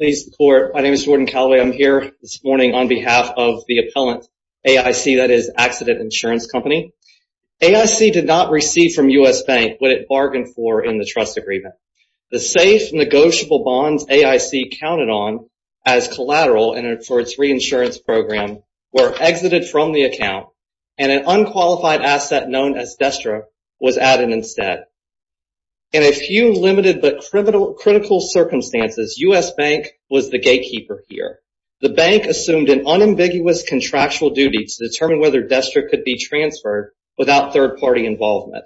I'm here this morning on behalf of the appellant AIC, that is, Accident Insurance Company. AIC did not receive from US Bank what it bargained for in the trust agreement. The safe, negotiable bonds AIC counted on as collateral for its reinsurance program were exited from the account, and an unqualified asset known as Destra was added instead. In a few limited but critical circumstances, US Bank was the gatekeeper here. The bank assumed an unambiguous contractual duty to determine whether Destra could be transferred without third-party involvement.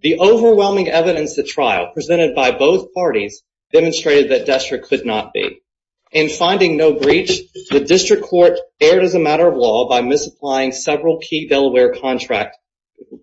The overwhelming evidence at trial, presented by both parties, demonstrated that Destra could not be. In finding no breach, the district court erred as a matter of law by misapplying several key Delaware contract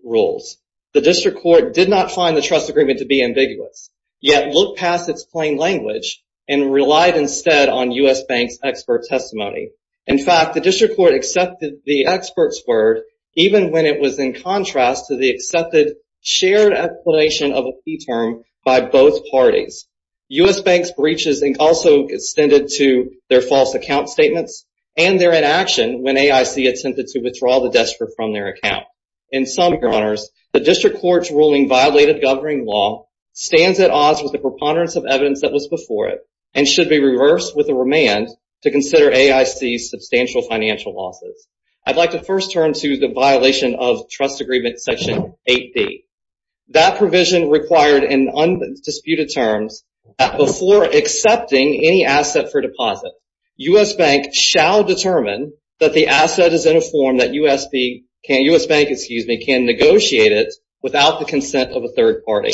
rules. The district court did not find the trust agreement to be ambiguous, yet looked past its plain language and relied instead on US Bank's expert testimony. In fact, the district court accepted the expert's word, even when it was in contrast to the accepted shared explanation of a fee term by both parties. US Bank's breaches also extended to their false account statements and their inaction when AIC attempted to withdraw the Destra from their account. In some corners, the district court's ruling violated governing law, stands at odds with the preponderance of evidence that was before it, and should be reversed with a remand to consider AIC's substantial financial losses. I'd like to first turn to the violation of trust agreement section 8B. That provision required in undisputed terms that before accepting any asset for deposit, US Bank shall determine that the asset is in a form that US Bank can negotiate it without the consent of a third party.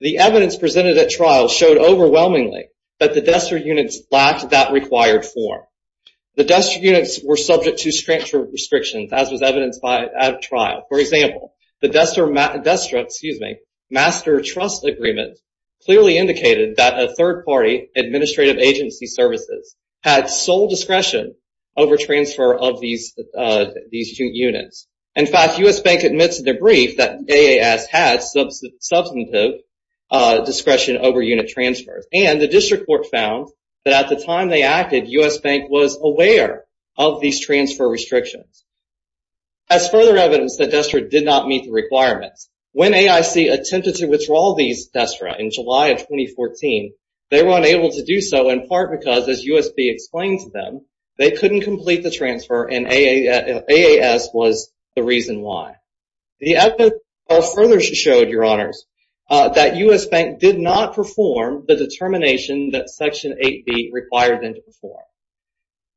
The evidence presented at trial showed overwhelmingly that the Destra units lacked that required form. The Destra units were subject to strict restrictions, as was evidenced at trial. For example, the Destra master trust agreement clearly indicated that a third party administrative agency services had sole discretion over transfer of these two units. In fact, US Bank admits in their brief that AAS had substantive discretion over unit transfers. And the district court found that at the time they acted, US Bank was aware of these transfer restrictions. As further evidence that Destra did not meet the requirements, when AIC attempted to withdraw these Destra in July of 2014, they were unable to do so in part because, as US Bank explained to them, they couldn't complete the transfer and AAS was the reason why. The evidence at trial further showed, Your Honors, that US Bank did not perform the determination that section 8B required them to perform.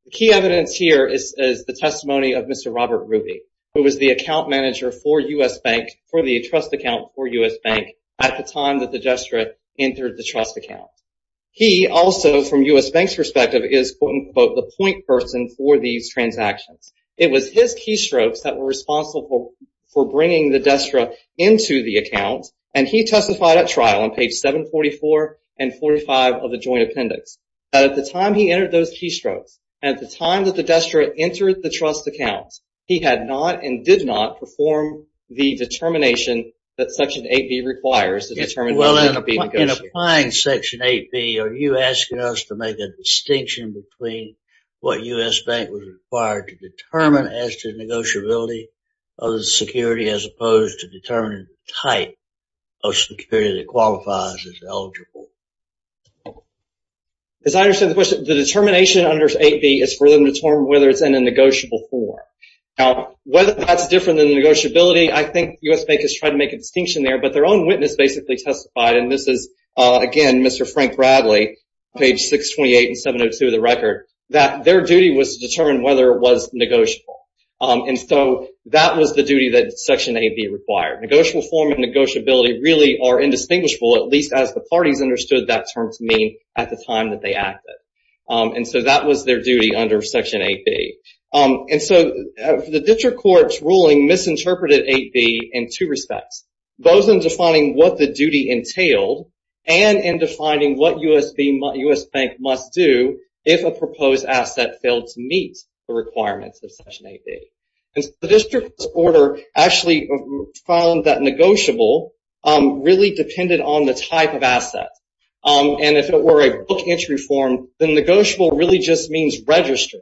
The key evidence here is the testimony of Mr. Robert Ruby, who was the account manager for US Bank, for the trust account for US Bank, at the time that the Destra entered the trust account. He also, from US Bank's perspective, is, quote, unquote, the point person for these transactions. It was his keystrokes that were responsible for bringing the Destra into the account, and he testified at trial on page 744 and 45 of the joint appendix. At the time he entered those keystrokes, at the time that the Destra entered the trust account, he had not and did not perform the determination that section 8B requires. In applying section 8B, are you asking us to make a distinction between what US Bank was required to determine as to negotiability of the security, as opposed to determining the type of security that qualifies as eligible? As I understand the question, the determination under 8B is for them to determine whether it's in a negotiable form. Now, whether that's different than the negotiability, I think US Bank has tried to make a distinction there, but their own witness basically testified, and this is, again, Mr. Frank Bradley, page 628 and 702 of the record, that their duty was to determine whether it was negotiable. And so that was the duty that section 8B required. Negotiable form and negotiability really are indistinguishable, at least as the parties understood that term to mean at the time that they acted. And so that was their duty under section 8B. And so the district court's ruling misinterpreted 8B in two respects, both in defining what the duty entailed and in defining what US Bank must do if a proposed asset failed to meet the requirements of section 8B. And so the district court's order actually found that negotiable really depended on the type of asset. And if it were a book entry form, then negotiable really just means registered.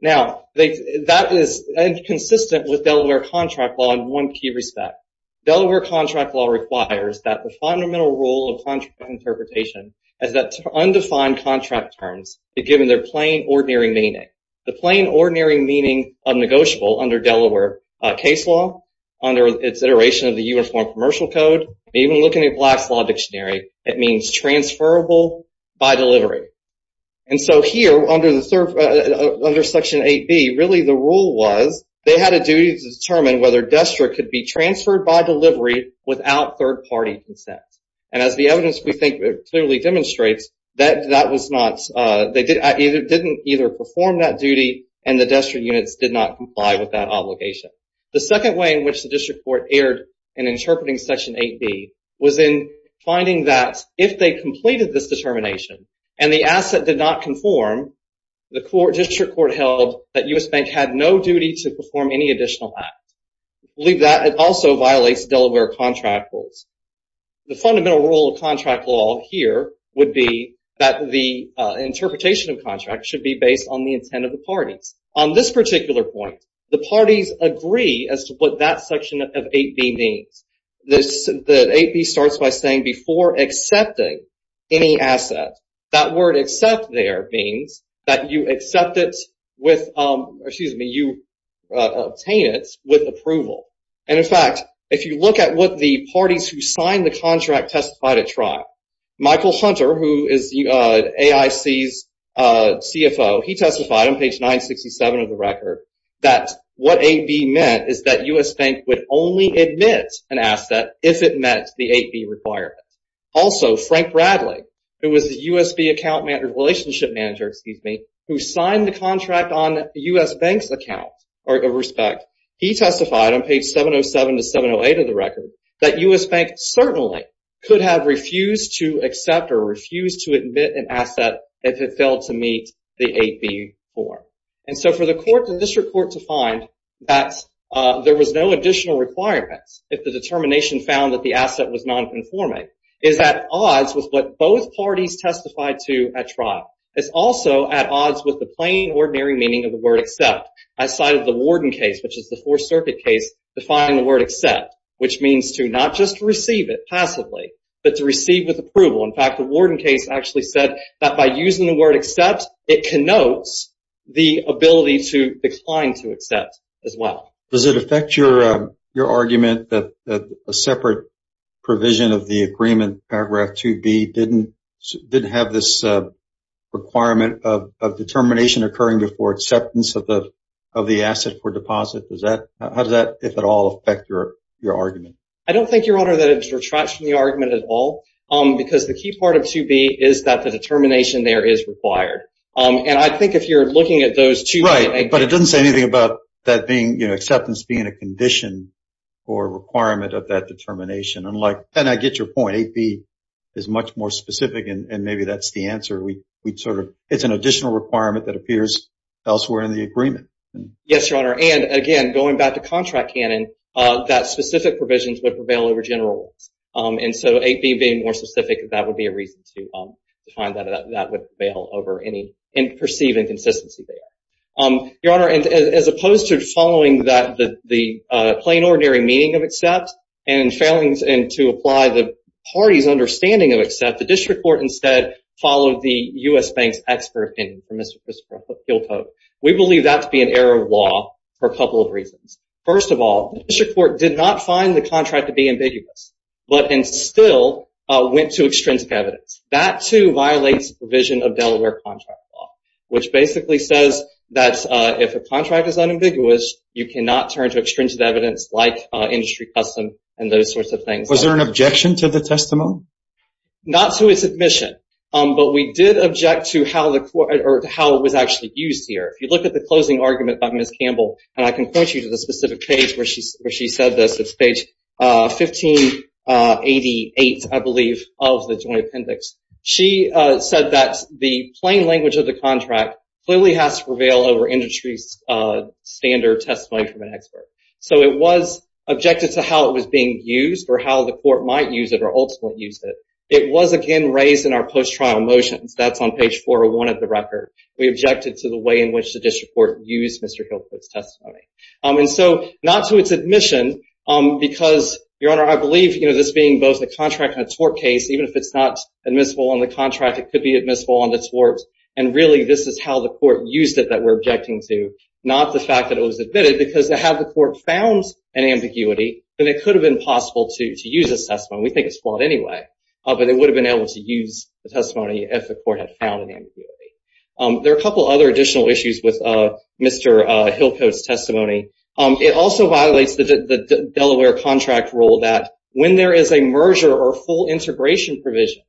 Now, that is inconsistent with Delaware contract law in one key respect. Delaware contract law requires that the fundamental rule of contract interpretation is that undefined contract terms are given their plain, ordinary meaning. The plain, ordinary meaning of negotiable under Delaware case law, under its iteration of the Uniform Commercial Code, even looking at Black's Law Dictionary, it means transferable by delivery. And so here under section 8B, really the rule was they had a duty to determine whether a district could be transferred by delivery without third-party consent. And as the evidence we think clearly demonstrates, they didn't either perform that duty and the district units did not comply with that obligation. The second way in which the district court erred in interpreting section 8B was in finding that if they completed this determination and the asset did not conform, the district court held that US Bank had no duty to perform any additional act. Believe that it also violates Delaware contract rules. The fundamental rule of contract law here would be that the interpretation of contract should be based on the intent of the parties. On this particular point, the parties agree as to what that section of 8B means. The 8B starts by saying before accepting any asset, that word accept there means that you accept it with, or excuse me, you obtain it with approval. And in fact, if you look at what the parties who signed the contract testified at trial, Michael Hunter, who is AIC's CFO, he testified on page 967 of the record that what 8B meant is that US Bank would only admit an asset if it met the 8B requirement. Also, Frank Bradley, who was the USB account manager, relationship manager, excuse me, who signed the contract on US Bank's account, he testified on page 707 to 708 of the record that US Bank certainly could have refused to accept or refused to admit an asset if it failed to meet the 8B form. And so for the district court to find that there was no additional requirements if the determination found that the asset was nonconforming, is also at odds with the plain, ordinary meaning of the word accept. I cited the Warden case, which is the Fourth Circuit case, defining the word accept, which means to not just receive it passively, but to receive with approval. In fact, the Warden case actually said that by using the word accept, it connotes the ability to decline to accept as well. Does it affect your argument that a separate provision of the agreement, paragraph 2B, didn't have this requirement of determination occurring before acceptance of the asset for deposit? How does that, if at all, affect your argument? I don't think, Your Honor, that it retracts from the argument at all, because the key part of 2B is that the determination there is required. And I think if you're looking at those two… Right, but it doesn't say anything about that being, you know, acceptance being a condition or requirement of that determination. And I get your point. 8B is much more specific, and maybe that's the answer. It's an additional requirement that appears elsewhere in the agreement. Yes, Your Honor. And, again, going back to contract canon, that specific provisions would prevail over general ones. And so 8B being more specific, that would be a reason to find that that would prevail over any perceived inconsistency there. Your Honor, as opposed to following the plain, ordinary meaning of accept and failing to apply the party's understanding of accept, the district court instead followed the U.S. Bank's expert opinion from Mr. Christopher Hillcote. We believe that to be an error of law for a couple of reasons. First of all, the district court did not find the contract to be ambiguous, but still went to extrinsic evidence. That, too, violates the provision of Delaware contract law, which basically says that if a contract is unambiguous, you cannot turn to extrinsic evidence like industry custom and those sorts of things. Was there an objection to the testimony? Not to its admission, but we did object to how it was actually used here. If you look at the closing argument by Ms. Campbell, and I can point you to the specific page where she said this. It's page 1588, I believe, of the Joint Appendix. She said that the plain language of the contract clearly has to prevail over industry's standard testimony from an expert. So it was objected to how it was being used or how the court might use it or ultimately use it. It was, again, raised in our post-trial motions. That's on page 401 of the record. We objected to the way in which the district court used Mr. Hillcote's testimony. I believe this being both a contract and a tort case, even if it's not admissible on the contract, it could be admissible on the tort. And, really, this is how the court used it that we're objecting to, not the fact that it was admitted, because had the court found an ambiguity, then it could have been possible to use this testimony. We think it's flawed anyway, but it would have been able to use the testimony if the court had found an ambiguity. There are a couple of other additional issues with Mr. Hillcote's testimony. It also violates the Delaware contract rule that when there is a merger or full integration provision,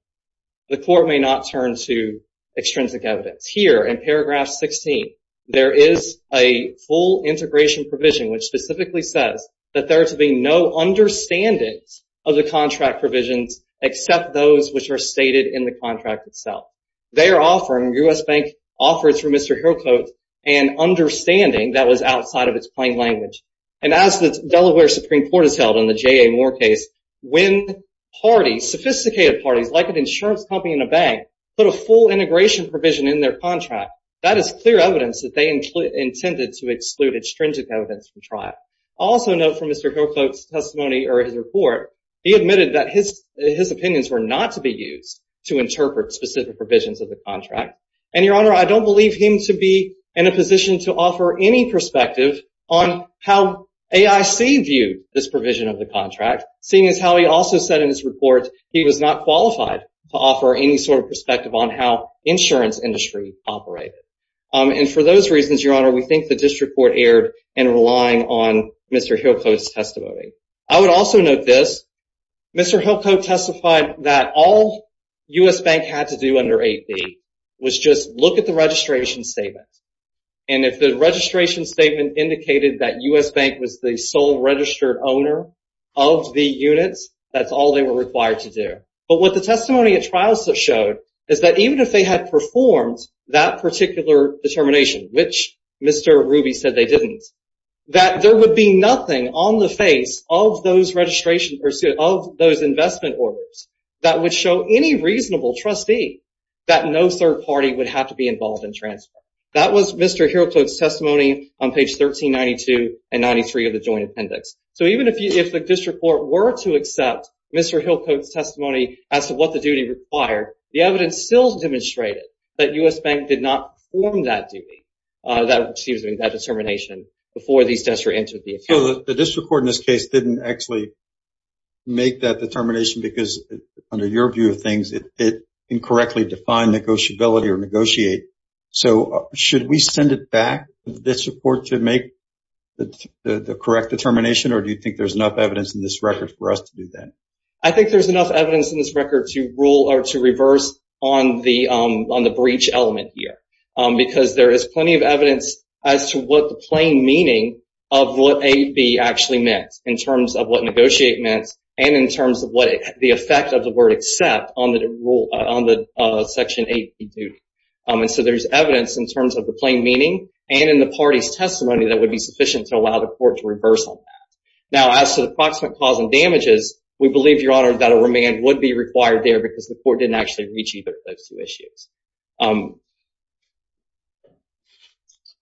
the court may not turn to extrinsic evidence. Here in paragraph 16, there is a full integration provision, which specifically says that there are to be no understandings of the contract provisions, except those which are stated in the contract itself. They are offering, U.S. Bank offers for Mr. Hillcote, an understanding that was outside of its plain language. And as the Delaware Supreme Court has held in the J.A. Moore case, when parties, sophisticated parties like an insurance company and a bank, put a full integration provision in their contract, that is clear evidence that they intended to exclude extrinsic evidence from trial. Also note from Mr. Hillcote's testimony or his report, he admitted that his opinions were not to be used to interpret specific provisions of the contract. And, Your Honor, I don't believe him to be in a position to offer any perspective on how AIC viewed this provision of the contract, seeing as how he also said in his report he was not qualified to offer any sort of perspective on how the insurance industry operated. And for those reasons, Your Honor, we think the district court erred in relying on Mr. Hillcote's testimony. I would also note this. Mr. Hillcote testified that all U.S. Bank had to do under 8B was just look at the registration statement. And if the registration statement indicated that U.S. Bank was the sole registered owner of the units, that's all they were required to do. But what the testimony at trial showed is that even if they had performed that particular determination, which Mr. Ruby said they didn't, that there would be nothing on the face of those registration, of those investment orders that would show any reasonable trustee that no third party would have to be involved in transfer. That was Mr. Hillcote's testimony on page 1392 and 93 of the joint appendix. So even if the district court were to accept Mr. Hillcote's testimony as to what the duty required, the evidence still demonstrated that U.S. Bank did not perform that duty, excuse me, that determination before these tests were entered into the account. So the district court in this case didn't actually make that determination because under your view of things, it incorrectly defined negotiability or negotiate. So should we send it back, this report, to make the correct determination? Or do you think there's enough evidence in this record for us to do that? I think there's enough evidence in this record to rule or to reverse on the breach element here because there is plenty of evidence as to what the plain meaning of what AB actually meant in terms of what negotiate meant and in terms of what the effect of the word except on the section AB duty. And so there's evidence in terms of the plain meaning and in the party's testimony that would be sufficient to allow the court to reverse on that. Now, as to the approximate cause and damages, we believe, Your Honor, that a remand would be required there because the court didn't actually reach either of those two issues.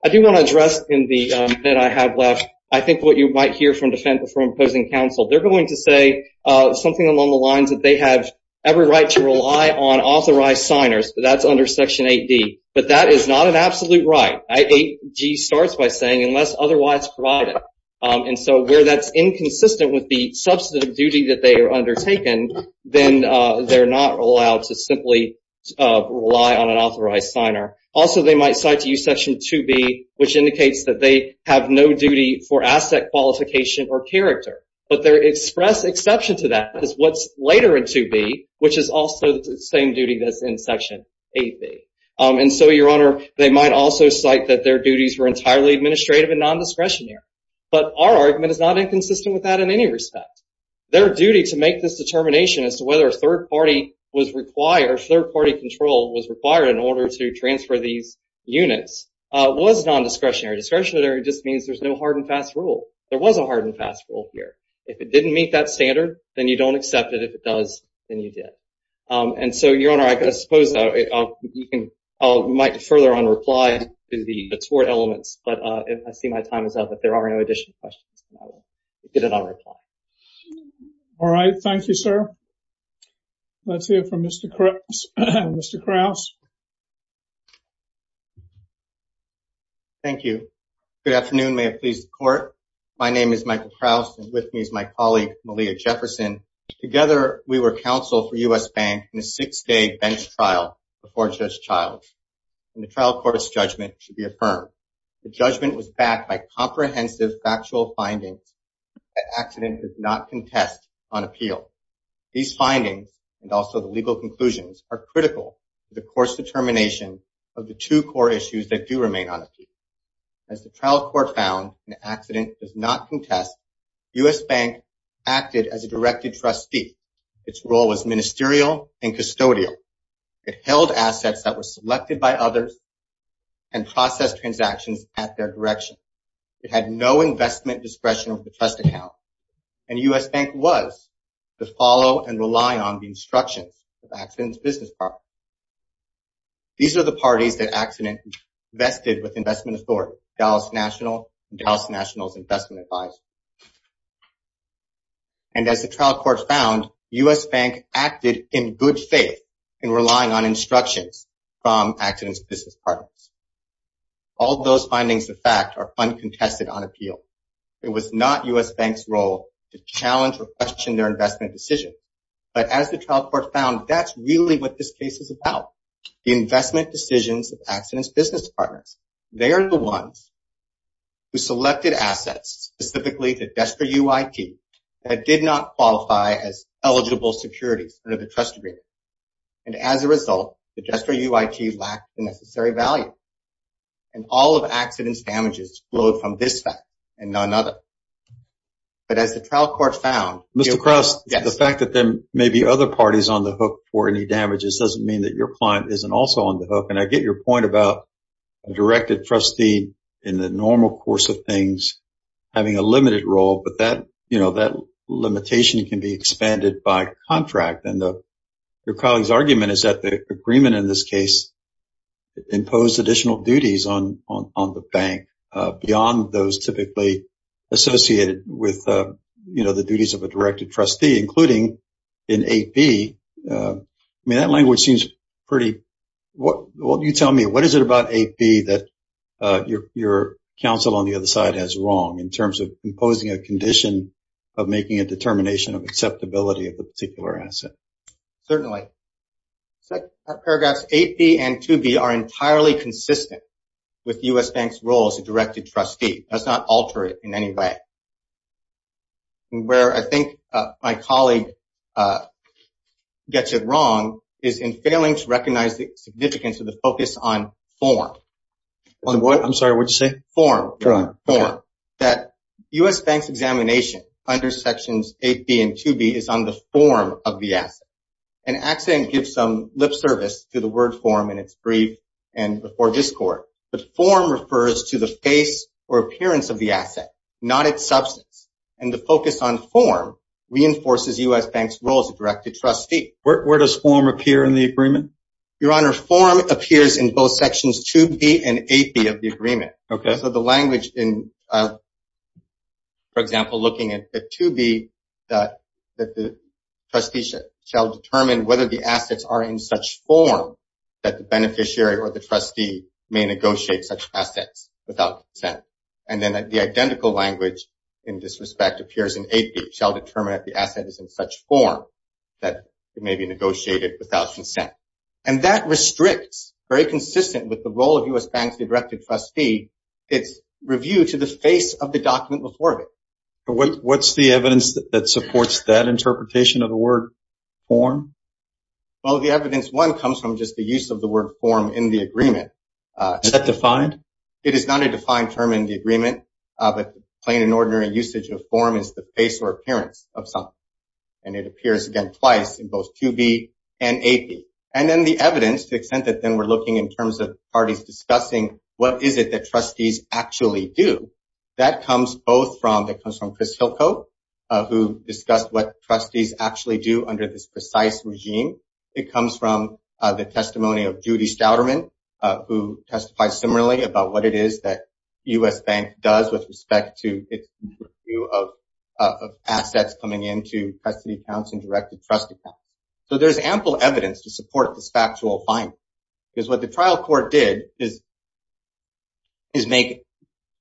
I do want to address in the bit I have left, I think what you might hear from Defendant for Imposing Counsel. They're going to say something along the lines that they have every right to rely on authorized signers, but that's under Section 8D, but that is not an absolute right. 8D starts by saying, unless otherwise provided. And so where that's inconsistent with the substantive duty that they are undertaking, then they're not allowed to simply rely on an authorized signer. Also, they might cite to you Section 2B, which indicates that they have no duty for asset qualification or character, but they express exception to that because what's later in 2B, which is also the same duty that's in Section 8B. And so, Your Honor, they might also cite that their duties were entirely administrative and non-discretionary, but our argument is not inconsistent with that in any respect. Their duty to make this determination as to whether a third-party control was required in order to transfer these units was non-discretionary. Discretionary just means there's no hard and fast rule. There was a hard and fast rule here. If it didn't meet that standard, then you don't accept it. If it does, then you did. And so, Your Honor, I suppose I might further un-reply to the tort elements, but I see my time is up. If there are no additional questions, I'll get it un-replied. All right. Thank you, sir. Let's hear from Mr. Krause. Thank you. Good afternoon. May it please the Court. My name is Michael Krause, and with me is my colleague, Malia Jefferson. Together, we were counsel for U.S. Bank in a six-day bench trial before Judge Child, and the trial court's judgment should be affirmed. The judgment was backed by comprehensive factual findings that accident does not contest on appeal. These findings, and also the legal conclusions, are critical to the court's determination of the two core issues that do remain unappealed. As the trial court found, an accident does not contest. U.S. Bank acted as a directed trustee. Its role was ministerial and custodial. It held assets that were selected by others and processed transactions at their direction. It had no investment discretion of the trust account, and U.S. Bank was to follow and rely on the instructions of accident's business partner. These are the parties that accident vested with investment authority, Dallas National and Dallas National's Investment Advisory. And as the trial court found, U.S. Bank acted in good faith in relying on instructions from accident's business partners. All those findings, in fact, are uncontested on appeal. It was not U.S. Bank's role to challenge or question their investment decision, but as the trial court found, that's really what this case is about. The investment decisions of accident's business partners. They are the ones who selected assets, specifically the Destre UIT, that did not qualify as eligible securities under the trust agreement. And as a result, the Destre UIT lacked the necessary value. And all of accident's damages flowed from this fact and none other. But as the trial court found, Mr. Krause, the fact that there may be other parties on the hook for any damages doesn't mean that your client isn't also on the hook. And I get your point about a directed trustee in the normal course of things having a limited role, but that, you know, that limitation can be expanded by contract. And your colleague's argument is that the agreement in this case imposed additional duties on the bank beyond those typically associated with, you know, the duties of a directed trustee, including an 8B. I mean, that language seems pretty, well, you tell me, what is it about 8B that your counsel on the other side has wrong in terms of imposing a condition of making a determination of acceptability of a particular asset? Certainly. Paragraphs 8B and 2B are entirely consistent with U.S. Bank's role as a directed trustee. That's not altered in any way. Where I think my colleague gets it wrong is in failing to recognize the significance of the focus on form. On what? I'm sorry, what did you say? Form. That U.S. Bank's examination under sections 8B and 2B is on the form of the asset. An accident gives some lip service to the word form in its brief and before this court, but form refers to the face or appearance of the asset, not its substance. And the focus on form reinforces U.S. Bank's role as a directed trustee. Where does form appear in the agreement? Your Honor, form appears in both sections 2B and 8B of the agreement. Okay. So the language in, for example, looking at 2B, that the trustee shall determine whether the assets are in such form that the beneficiary or the trustee may negotiate such assets without consent. And then the identical language in this respect appears in 8B, shall determine if the asset is in such form that it may be negotiated without consent. And that restricts, very consistent with the role of U.S. Bank's directed trustee, its review to the face of the document before it. What's the evidence that supports that interpretation of the word form? Well, the evidence, one, comes from just the use of the word form in the agreement. Is that defined? It is not a defined term in the agreement, but plain and ordinary usage of form is the face or appearance of something. And it appears again twice in both 2B and 8B. And then the evidence to the extent that then we're looking in terms of parties discussing what is it that trustees actually do, that comes both from, that comes from Chris Hilko, who discussed what trustees actually do under this precise regime. It comes from the testimony of Judy Stouderman, who testifies similarly about what it is that U.S. Bank does with respect to its review of assets coming into custody accounts and directed trust account. So there's ample evidence to support this factual finding. Because what the trial court did is make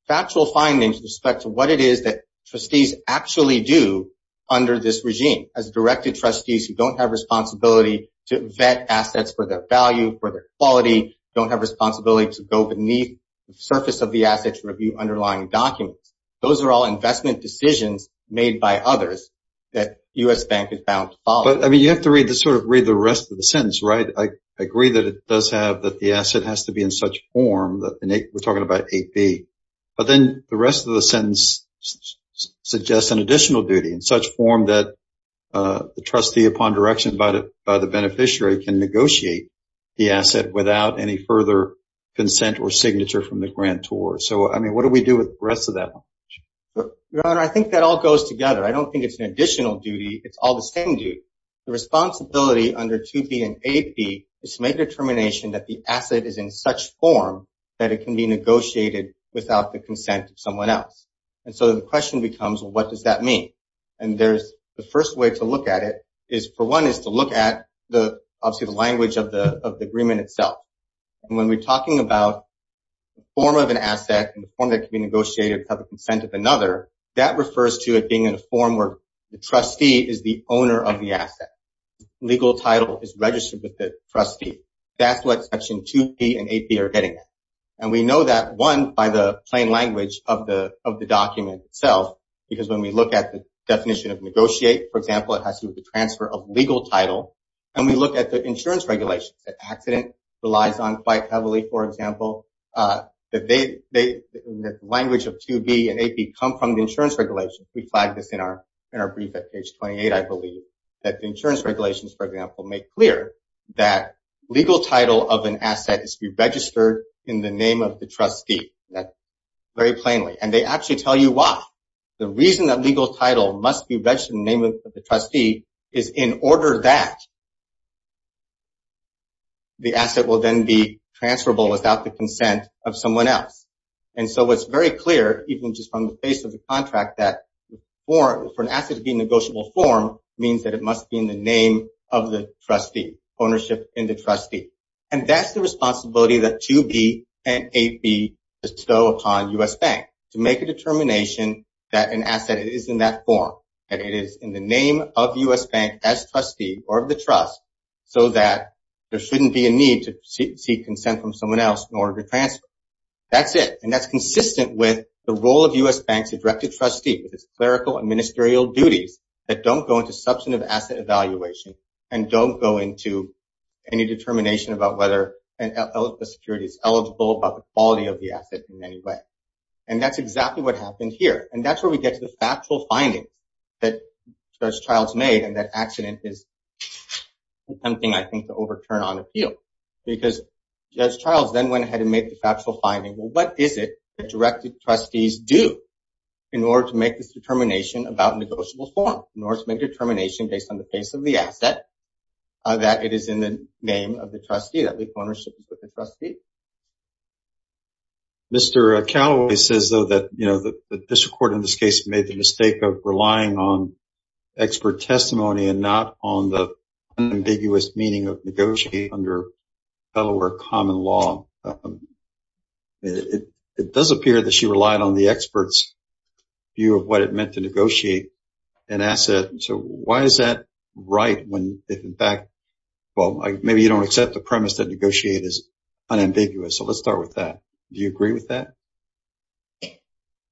factual findings with respect to what it is that trustees actually do under this regime. As directed trustees who don't have responsibility to vet assets for their value, for their quality, don't have responsibility to go beneath the surface of the assets, review underlying documents. Those are all investment decisions made by others that U.S. Bank is bound to follow. I mean, you have to read the sort of read the rest of the sentence, right? I agree that it does have that the asset has to be in such form that we're talking about 8B. But then the rest of the sentence suggests an additional duty in such form that the trustee upon direction by the beneficiary can negotiate the asset without any further consent or signature from the grantor. So, I mean, what do we do with the rest of that? Your Honor, I think that all goes together. I don't think it's an additional duty. It's all the same duty. The responsibility under 2B and 8B is to make a determination that the asset is in such form that it can be negotiated without the consent of someone else. And so the question becomes, well, what does that mean? And there's the first way to look at it is, for one, is to look at obviously the language of the agreement itself. And when we're talking about the form of an asset and the form that can be negotiated without the consent of another, that refers to it being in a form where the trustee is the owner of the asset. The legal title is registered with the trustee. That's what Section 2B and 8B are getting at. And we know that, one, by the plain language of the document itself, because when we look at the definition of negotiate, for example, it has to do with the transfer of legal title. And we look at the insurance regulations. That accident relies on quite heavily, for example. The language of 2B and 8B come from the insurance regulations. We flagged this in our brief at page 28, I believe, that the insurance regulations, for example, make clear that legal title of an asset is to be registered in the name of the trustee, very plainly. And they actually tell you why. The reason that legal title must be registered in the name of the trustee is in order that the asset will then be transferable without the consent of someone else. And so it's very clear, even just from the face of the contract, that for an asset to be in negotiable form means that it must be in the name of the trustee, ownership in the trustee. And that's the responsibility that 2B and 8B bestow upon U.S. Bank to make a determination that an asset is in that form, that it is in the name of U.S. Bank as trustee or of the trust so that there shouldn't be a need to seek consent from someone else in order to transfer. That's it. And that's consistent with the role of U.S. Bank's directed trustee with its clerical and ministerial duties that don't go into substantive asset evaluation and don't go into any determination about whether a security is eligible, about the quality of the asset in any way. And that's exactly what happened here. And that's where we get to the factual finding that Judge Childs made, and that accident is tempting, I think, to overturn on appeal. Because Judge Childs then went ahead and made the factual finding, what is it that directed trustees do in order to make this determination about negotiable form, in order to make a determination based on the face of the ownership of the trustee? Mr. Calaway says, though, that, you know, the district court in this case made the mistake of relying on expert testimony and not on the ambiguous meaning of negotiating under Delaware common law. It does appear that she relied on the expert's view of what it meant to negotiate an asset. So why is that right when, in fact, well, negotiating is unambiguous? So let's start with that. Do you agree with that?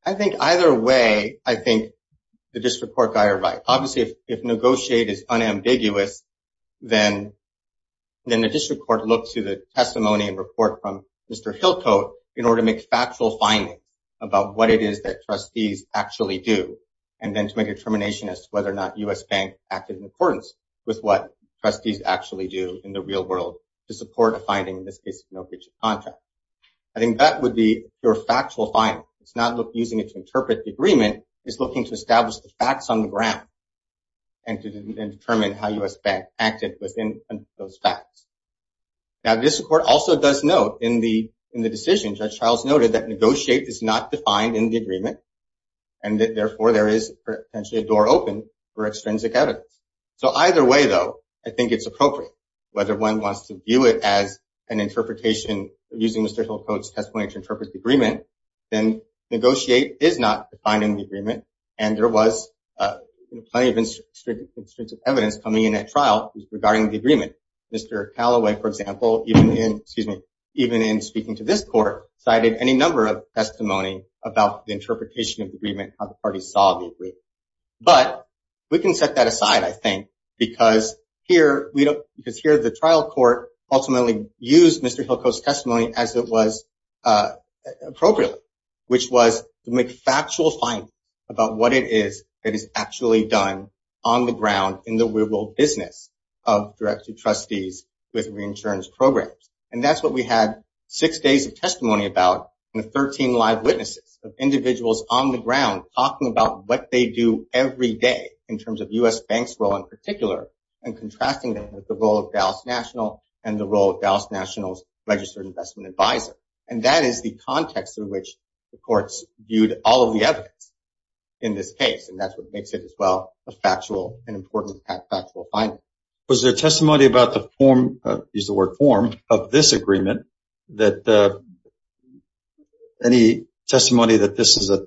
I think either way, I think the district court guy are right. Obviously, if negotiate is unambiguous, then the district court looked to the testimony and report from Mr. Hillcoat in order to make factual findings about what it is that trustees actually do, and then to make a determination as to whether or not U.S. Bank acted in accordance with what trustees actually do in the real world to support a finding in this case of no breach of contract. I think that would be your factual finding. It's not using it to interpret the agreement. It's looking to establish the facts on the ground and to determine how U.S. Bank acted within those facts. Now, the district court also does note in the decision, Judge Childs noted that negotiate is not defined in the agreement, and therefore there is potentially a door open for extrinsic evidence. So either way, though, I think it's appropriate. Whether one wants to view it as an interpretation using Mr. Hillcoat's testimony to interpret the agreement, then negotiate is not defined in the agreement, and there was plenty of extrinsic evidence coming in at trial regarding the agreement. Mr. Callaway, for example, even in speaking to this court, cited any number of testimony about the interpretation of the agreement, how the parties saw the agreement. But we can set that aside, I think, because here, the trial court ultimately used Mr. Hillcoat's testimony as it was appropriate, which was to make factual findings about what it is that is actually done on the ground in the real world business of directing trustees with reinsurance programs. And that's what we had six days of testimony about and 13 live witnesses of individuals on the ground talking about what they do every day in terms of U.S. banks role in particular and contrasting them with the role of Dallas National and the role of Dallas National's Registered Investment Advisor. And that is the context in which the courts viewed all of the evidence in this case. And that's what makes it as well a factual and important factual finding. Was there testimony about the form, use the word form, of this agreement, that any testimony that this is a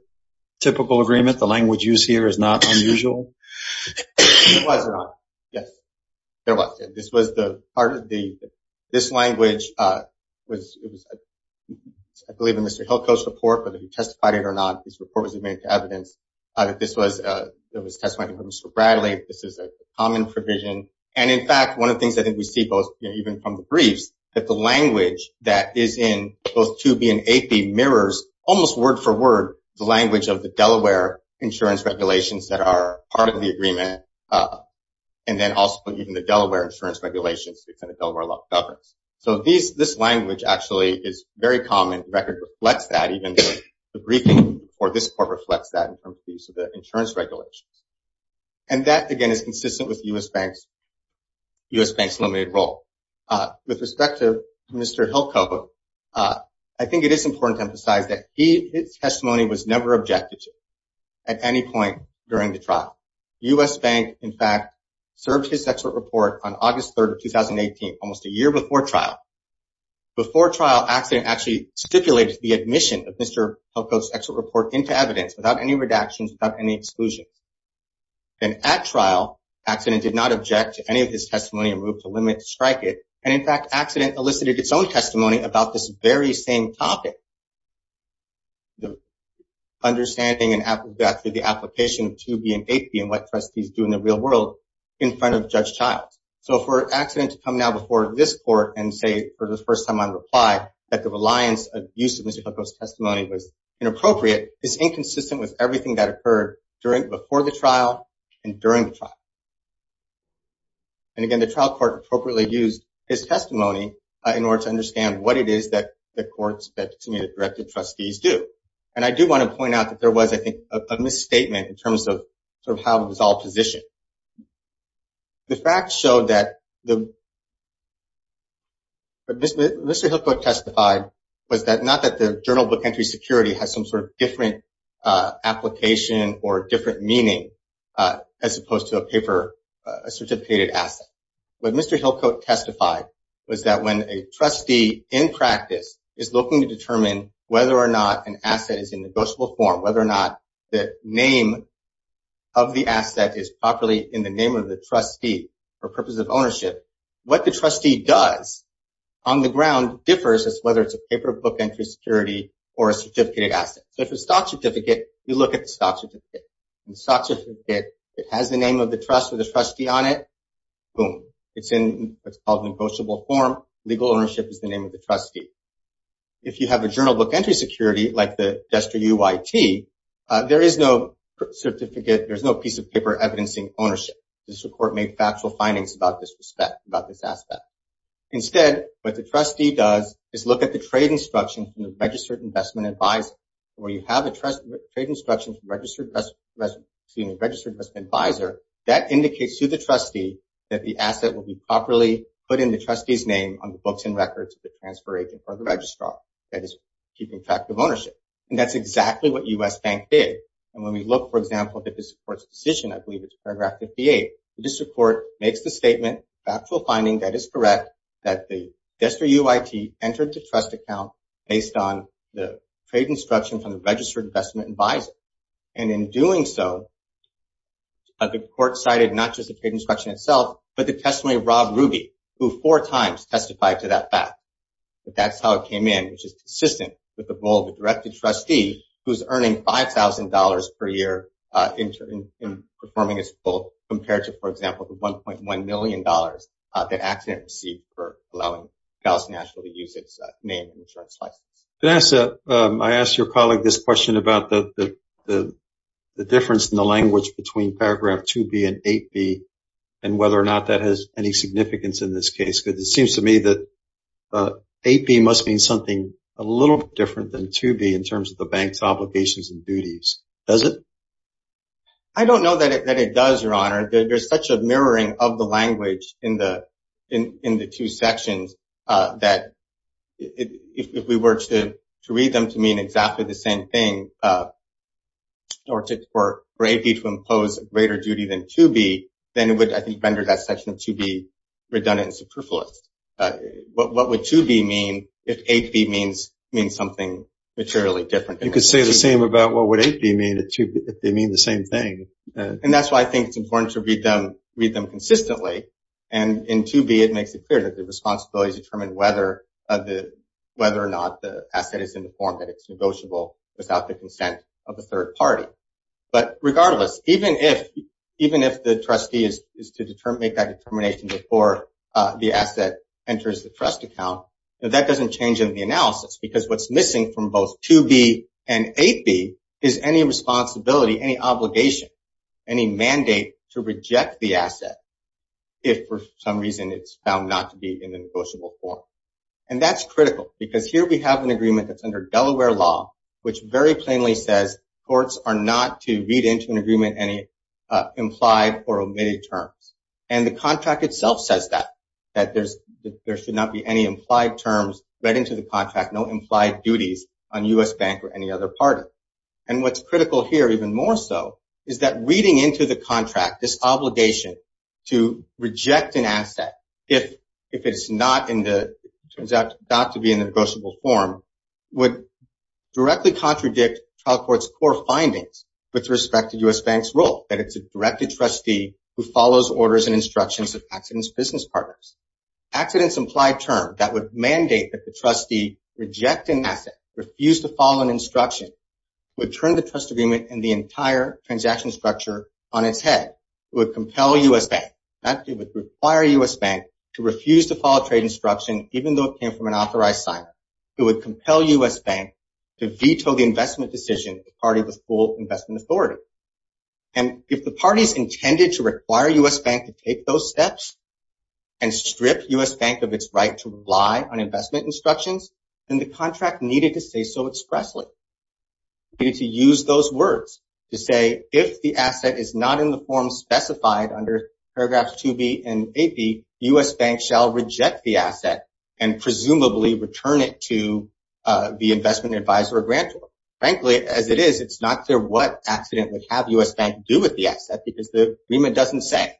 typical agreement, the language used here is not unusual? It wasn't. Yes, there was. This was the part of the, this language was, I believe in Mr. Hillcoat's report, whether he testified it or not, this report was made to evidence. This was, it was testimony from Mr. Bradley. This is a common provision. And in fact, one of the things I think we see both, even from the briefs that the language that is in both 2B and 8B mirrors almost word for word, the language of the Delaware insurance regulations that are part of the agreement. And then also even the Delaware insurance regulations, it's in the Delaware law of governance. So these, this language actually is very common. The record reflects that even the briefing or this court reflects that in terms of the insurance regulations. And that again is consistent with U.S. Banks, U.S. Banks limited role. With respect to Mr. Hillcoat, I think it is important to emphasize that he, his testimony was never objected to at any point during the trial. U.S. Bank, in fact, served his expert report on August 3rd, 2018, almost a year before trial before trial accident, actually stipulated the admission of Mr. Hillcoat's expert report into evidence without any redactions, without any exclusion. And at trial accident did not object to any of his testimony and moved to limit, strike it. And in fact, accident elicited its own testimony about this very same topic, the understanding and the application of 2B and 8B and what trustees do in the real world in front of judge Childs. So for accident to come now before this court and say, for the first time on reply that the reliance of use of Mr. Hillcoat's testimony was inappropriate is inconsistent with everything that occurred during, before the trial and during the trial. And again, the trial court appropriately used his testimony in order to understand what it is that the courts that to me that directed trustees do. And I do want to point out that there was, I think, a misstatement in terms of sort of how it was all positioned. The fact showed that the Mr. Hillcoat testified was that not that the journal book entry security has some sort of different application or different meaning as opposed to a paper, a certificated asset. But Mr. Hillcoat testified was that when a trustee in practice is looking to determine whether or not an asset is in negotiable form, whether or not the name of the asset is properly in the name of the trustee for purposes of ownership, what the trustee does on the ground differs as whether it's a paper book entry security or a certificated asset. So if a stock certificate, you look at the stock certificate, it has the name of the trust or the trustee on it, boom, it's in what's called negotiable form. Legal ownership is the name of the trustee. If you have a journal book entry security like the Duster UIT, there is no certificate. There's no piece of paper evidencing ownership. This report made factual findings about this aspect. Instead, what the trustee does is look at the trade instruction from the registered investment advisor, where you have a trade instruction from a registered investment advisor. That indicates to the trustee that the asset will be properly put in the trustee's name on the books and records of the transfer agent or the registrar that is keeping track of ownership. And that's exactly what U.S. Bank did. And when we look, for example, at this report's decision, I believe it's paragraph 58, this report makes the statement factual finding that is correct, that the Duster UIT entered the trust account based on the trade instruction from the registered investment advisor. And in doing so, the court cited not just the trade instruction itself, but the testimony of Rob Ruby, who four times testified to that fact. But that's how it came in, which is consistent with the role of the directed trustee who's earning $5,000 per year in performing his role compared to, for example, the $1.1 million that Accent received for allowing Dallas National to use its name in the insurance license. Vanessa, I asked your colleague this question about the difference in the language between paragraph 2B and 8B and whether or not that has any significance in this case, because it seems to me that 8B must mean something a little different than 2B in terms of the bank's obligations and duties. Does it? I don't know that it does, Your Honor. There's such a mirroring of the language in the two sections that if we were to read them to mean exactly the same thing, or for 8B to impose a greater duty than 2B, then it would, I think, render that section of 2B redundant and superfluous. What would 2B mean if 8B means something materially different? You could say the same about what would 8B mean if they mean the same thing. And that's why I think it's important to read them consistently. And in 2B, it makes it clear that the responsibilities determine whether or not the asset is in the form that it's negotiable without the consent of a third party. But regardless, even if the trustee is to make that determination before the asset enters the trust account, that doesn't change in the analysis because what's missing from both 2B and 8B is any responsibility, any obligation, any mandate to reject the asset if, for some reason, it's found not to be in the negotiable form. And that's critical because here we have an agreement that's under Delaware law, which very plainly says, courts are not to read into an agreement any implied or omitted terms. And the contract itself says that, that there should not be any implied terms read into the contract, no implied duties on U.S. Bank or any other party. And what's critical here even more so is that reading into the contract, this obligation to reject an asset if it's not in the, turns out not to be in the negotiable form, would directly contradict trial court's core findings with respect to U.S. Bank's role, that it's a directed trustee who follows orders and instructions of accidents business partners. that would mandate that the trustee reject an asset, refuse to follow an instruction, would turn the trust agreement and the entire transaction structure on its head. It would compel U.S. Bank, that it would require U.S. Bank to refuse to follow trade instruction, even though it came from an authorized signer. It would compel U.S. Bank to veto the investment decision if the party was full investment authority. And if the party's intended to require U.S. Bank to take those steps and strip U.S. Bank of its right to rely on investment instructions, then the contract needed to say so expressly. You need to use those words to say, if the asset is not in the form specified under paragraphs 2B and 8B, U.S. Bank shall reject the asset and presumably return it to the investment advisor or grantor. Frankly, as it is, it's not clear what accident would have U.S. Bank do with the asset because the agreement doesn't say,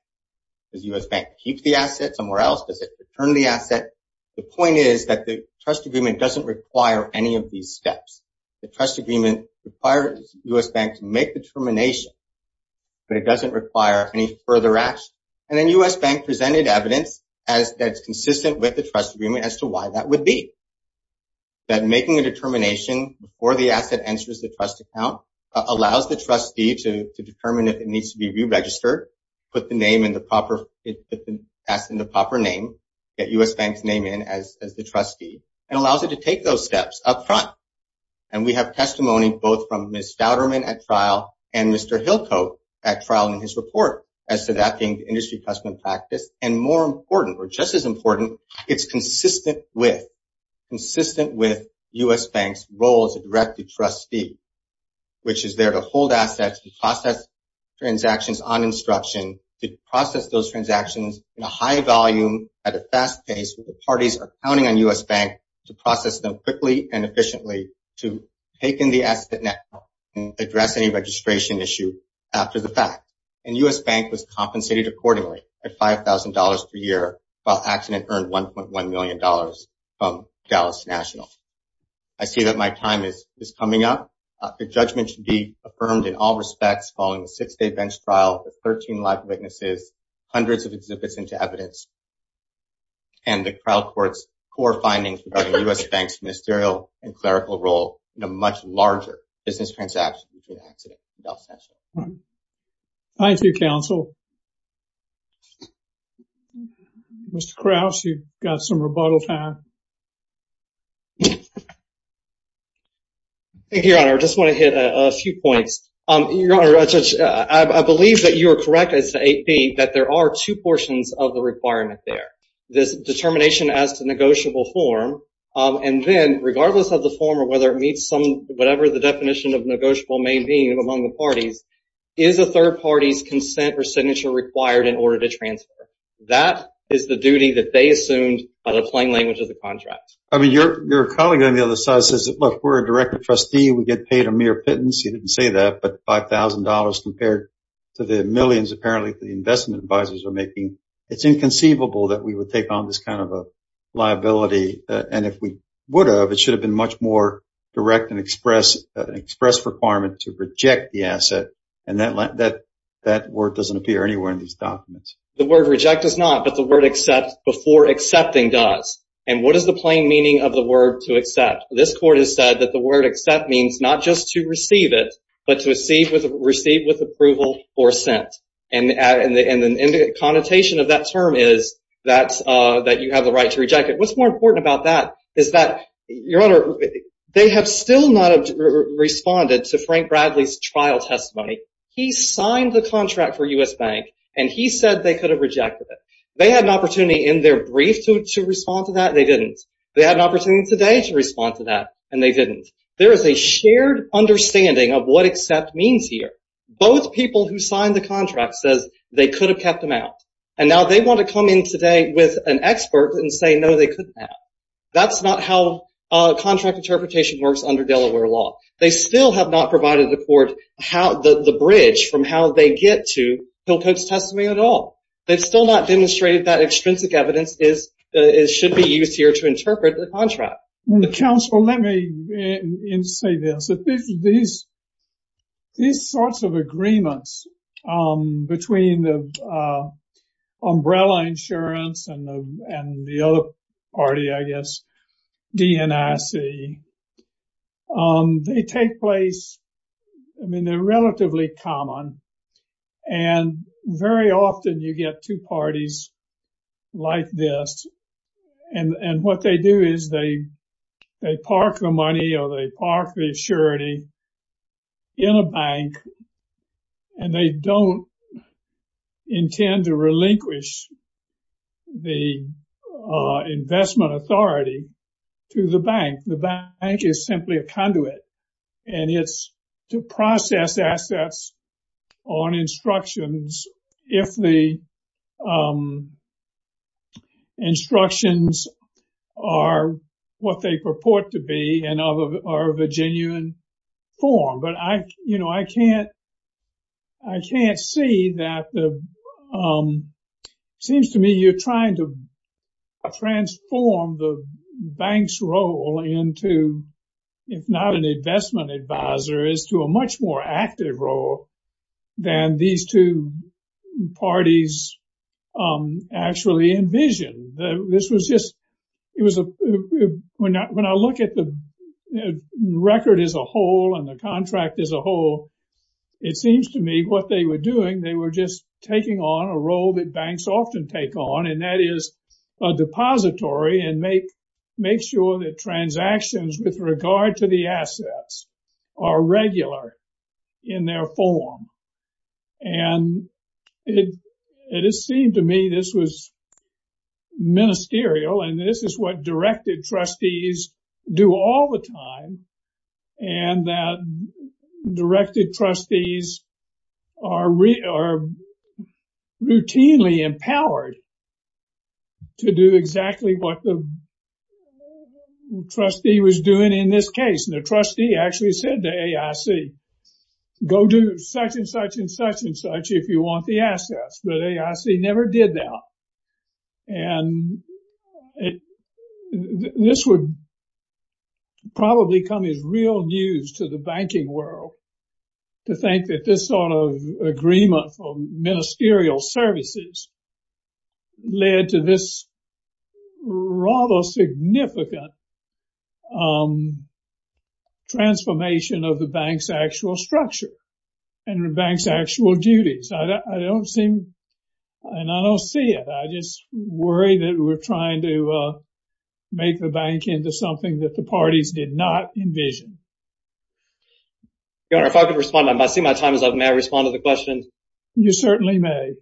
does U.S. Bank keep the asset somewhere else? Does it return the asset? The point is that the trust agreement doesn't require any of these steps. The trust agreement requires U.S. Bank to make the termination, but it doesn't require any further action. And then U.S. Bank presented evidence as that's consistent with the trust agreement as to why that would be. That making a determination before the asset answers the trust account allows the trustee to determine if it needs to be re-registered, put the name in the proper, put the asset in the proper name, get U.S. Bank's name in as the trustee, and allows it to take those steps up front. And we have testimony both from Ms. Fowderman at trial and Mr. Hillcoat at trial in his report as to that being the industry custom practice. And more important, or just as important, it's consistent with U.S. Bank's role as a directed trustee, which is there to hold assets, to process transactions on instruction, to process those transactions in a high volume at a fast pace where the parties are counting on U.S. Bank to process them quickly and efficiently to take in the asset net and address any registration issue after the fact. And U.S. Bank was compensated accordingly at $5,000 per year, while Accident earned $1.1 million from Dallas National. I see that my time is coming up. The judgment should be affirmed in all respects following the six-day bench trial with 13 live witnesses, hundreds of exhibits into evidence, and the trial court's core findings regarding U.S. Bank's ministerial and clerical role in a much larger business transaction between Accident and Dallas National. Thank you, counsel. Mr. Krause, you've got some rebuttal time. Thank you, Your Honor. I just want to hit a few points. Your Honor, I believe that you are correct as to 8B, that there are two portions of the requirement there. There's determination as to negotiable form, and then regardless of the form or whether it meets whatever the definition of negotiable may be among the parties, is a third party's consent or signature required in order to transfer? That is the duty that they assumed by the plain language of the contract. I mean, your colleague on the other side says, look, we're a direct trustee. We get paid a mere pittance. He didn't say that, but $5,000 compared to the millions apparently the investment advisors are making. It's inconceivable that we would take on this kind of a liability. And if we would have, it should have been much more direct and express requirement to reject the asset. And that word doesn't appear anywhere in these documents. The word reject does not, but the word accept before accepting does. And what is the plain meaning of the word to accept? This court has said that the word accept means not just to receive it, but to receive with approval or sent. And the connotation of that term is that you have the right to reject it. What's more important about that is that, Your Honor, they have still not responded to Frank Bradley's trial testimony. He signed the contract for U.S. Bank, and he said they could have rejected it. They had an opportunity in their brief to respond to that. They didn't. They had an opportunity today to respond to that, and they didn't. There is a shared understanding of what accept means here. Both people who signed the contract says they could have kept them out. And now they want to come in today with an expert and say, no, they couldn't have. That's not how contract interpretation works under Delaware law. They still have not provided the court the bridge from how they get to Hillcote's testimony at all. They've still not demonstrated that extrinsic evidence should be used here to interpret the contract. Counsel, let me say this. These sorts of agreements between the umbrella insurance and the other party, I guess, DNIC, they take place. I mean, they're relatively common. And very often you get two parties like this. And what they do is they park the money or they park the assurity in a bank, and they don't intend to relinquish the investment authority to the bank. The bank is simply a conduit. And it's to process assets on instructions if the instructions are what they purport to be and are of a genuine form. But I can't see that. It seems to me you're trying to transform the bank's role into, if not an investment advisor, is to a much more active role than these two parties actually envision. This was just – when I look at the record as a whole and the contract as a whole, it seems to me what they were doing, they were just taking on a role that banks often take on, and that is a depository and make sure that transactions with regard to the assets are regular in their form. And it seemed to me this was ministerial, and this is what directed trustees do all the time, and that directed trustees are routinely empowered to do what the trustee was doing in this case. And the trustee actually said to AIC, go do such and such and such and such if you want the assets, but AIC never did that. And this would probably come as real news to the banking world to think that this sort of agreement for ministerial services led to this rather significant transformation of the bank's actual structure and the bank's actual duties. I don't seem – and I don't see it. I just worry that we're trying to make the bank into something that the parties did not envision. Your Honor, if I could respond. I see my time is up. May I respond to the question? You certainly may.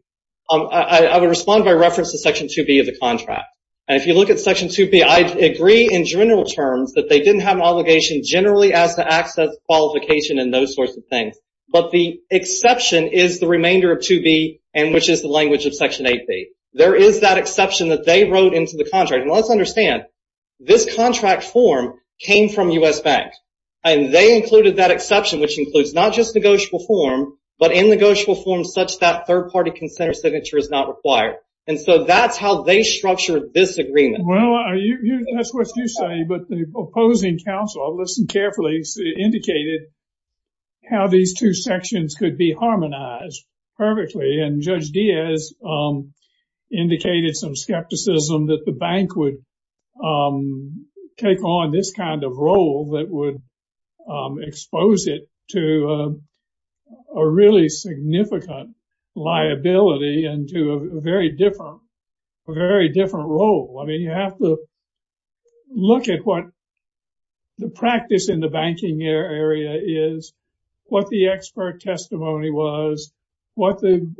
I would respond by reference to Section 2B of the contract. And if you look at Section 2B, I agree in general terms that they didn't have an obligation generally as to access, qualification, and those sorts of things. But the exception is the remainder of 2B and which is the language of Section 8B. There is that exception that they wrote into the contract. And let's understand, this contract form came from U.S. Bank. And they included that exception, which includes not just negotiable form, but in negotiable form such that third-party consent or signature is not required. And so that's how they structured this agreement. Well, that's what you say. But the opposing counsel, I've listened carefully, indicated how these two sections could be harmonized perfectly. And Judge Diaz indicated some skepticism that the bank would take on this kind of role that would expose it to a really significant liability and to a very different role. I mean, you have to look at what the practice in the banking area is, what the expert testimony was, what the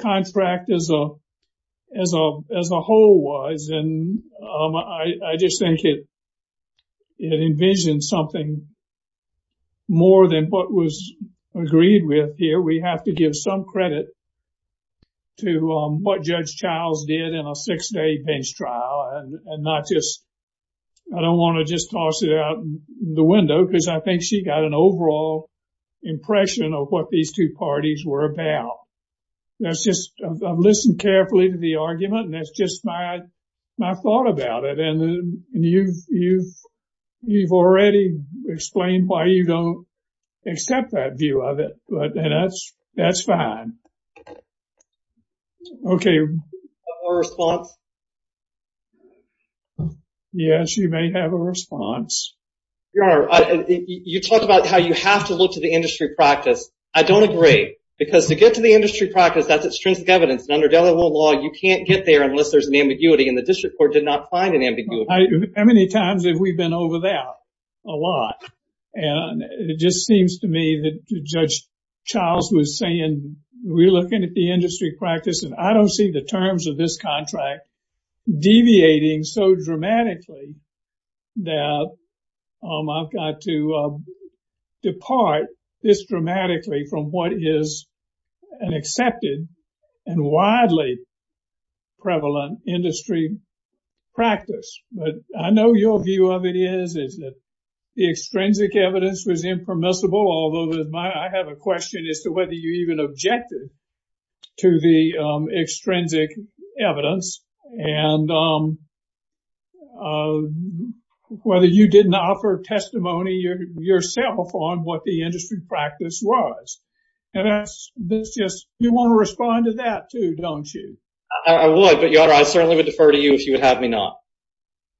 contract as a whole was. And I just think it envisioned something more than what was agreed with here. We have to give some credit to what Judge Childs did in a six-day bench trial and not just, I don't want to just toss it out the window because I think she got an overall impression of what these two parties were about. That's just, I've listened carefully to the argument and that's just my thought about it. And you've already explained why you don't accept that view of it. But that's fine. Okay. A response? Yes, you may have a response. Your Honor, you talk about how you have to look to the industry practice. I don't agree because to get to the industry practice, that's a stringent evidence. And under Delaware law, you can't get there unless there's an ambiguity. And the district court did not find an ambiguity. How many times have we been over that a lot? And it just seems to me that Judge Childs was saying, we're looking at the industry practice and I don't see the terms of this contract deviating so dramatically that I've got to depart this dramatically from what is an accepted and widely prevalent industry practice. But I know your view of it is that the extrinsic evidence was impermissible, although I have a question as to whether you even objected to the extrinsic evidence and whether you didn't offer testimony yourself on what the industry practice was. You want to respond to that too, don't you? I would, but, Your Honor, I certainly would defer to you if you would have me not.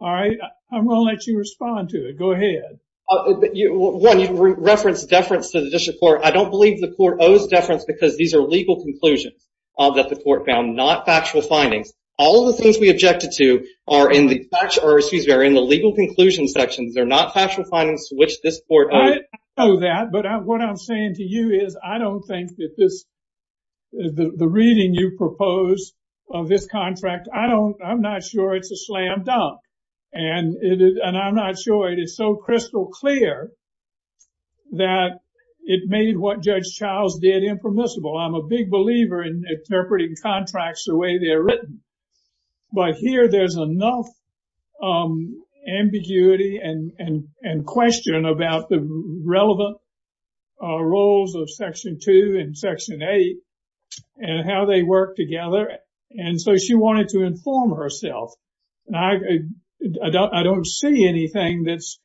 All right. I'm going to let you respond to it. Go ahead. One, you referenced deference to the district court. I don't believe the court owes deference because these are legal conclusions that the court found, not factual findings. All of the things we objected to are in the legal conclusions section. They're not factual findings to which this court owes. I know that, but what I'm saying to you is I don't think that this, the reading you propose of this contract, I'm not sure it's a slam dunk. And I'm not sure it is so crystal clear that it made what Judge Childs did impermissible. I'm a big believer in interpreting contracts the way they're written. But here there's enough ambiguity and question about the relevant roles of Section 2 and Section 8 and how they work together. And so she wanted to inform herself. I don't see anything that's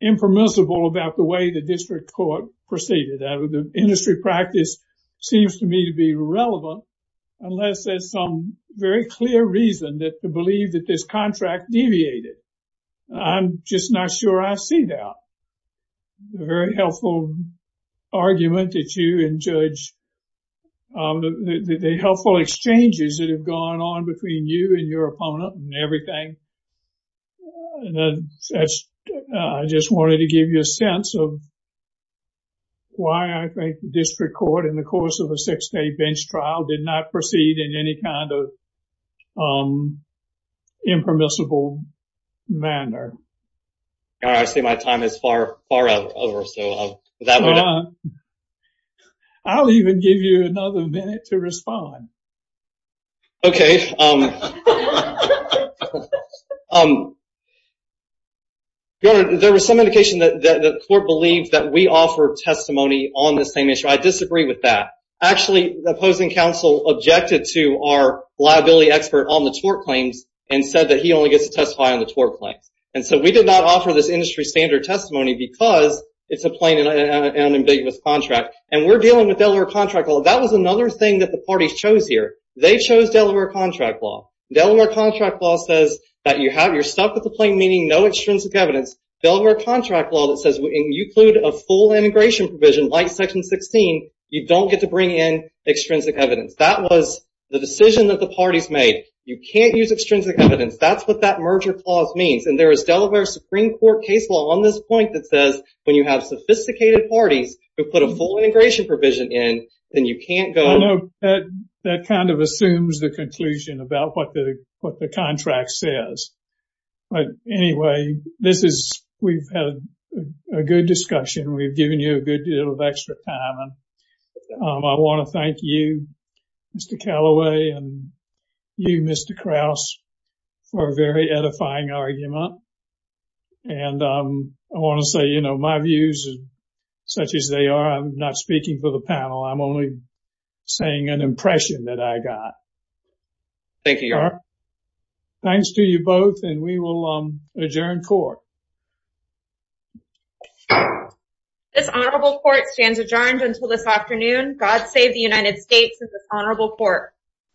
impermissible about the way the district court proceeded. The industry practice seems to me to be irrelevant, unless there's some very clear reason to believe that this contract deviated. I'm just not sure I see that. A very helpful argument that you and Judge, the helpful exchanges that have gone on between you and your opponent and everything. I just wanted to give you a sense of why I think the district court, in the course of a six-day bench trial, did not proceed in any kind of impermissible manner. I see my time is far over. Okay. Your Honor, there was some indication that the court believed that we offer testimony on this same issue. I disagree with that. Actually, the opposing counsel objected to our liability expert on the tort claims and said that he only gets to testify on the tort claims. And so we did not offer this industry standard testimony because it's a plain and ambiguous contract. And we're dealing with Delaware contract law. That was another thing that the parties chose here. They chose Delaware contract law. Delaware contract law says that you're stuck with the plain meaning, no extrinsic evidence. Delaware contract law that says when you include a full integration provision, like Section 16, you don't get to bring in extrinsic evidence. That was the decision that the parties made. You can't use extrinsic evidence. That's what that merger clause means. And there is Delaware Supreme Court case law on this point that says, when you have sophisticated parties who put a full integration provision in, then you can't go. I know that kind of assumes the conclusion about what the contract says. But anyway, this is, we've had a good discussion. We've given you a good deal of extra time. I want to thank you, Mr. Callaway, and you, Mr. Krause, for a very edifying argument. And I want to say, you know, my views, such as they are, I'm not speaking for the panel. I'm only saying an impression that I got. Thank you, Your Honor. Thanks to you both, and we will adjourn court. This honorable court stands adjourned until this afternoon. God save the United States and this honorable court.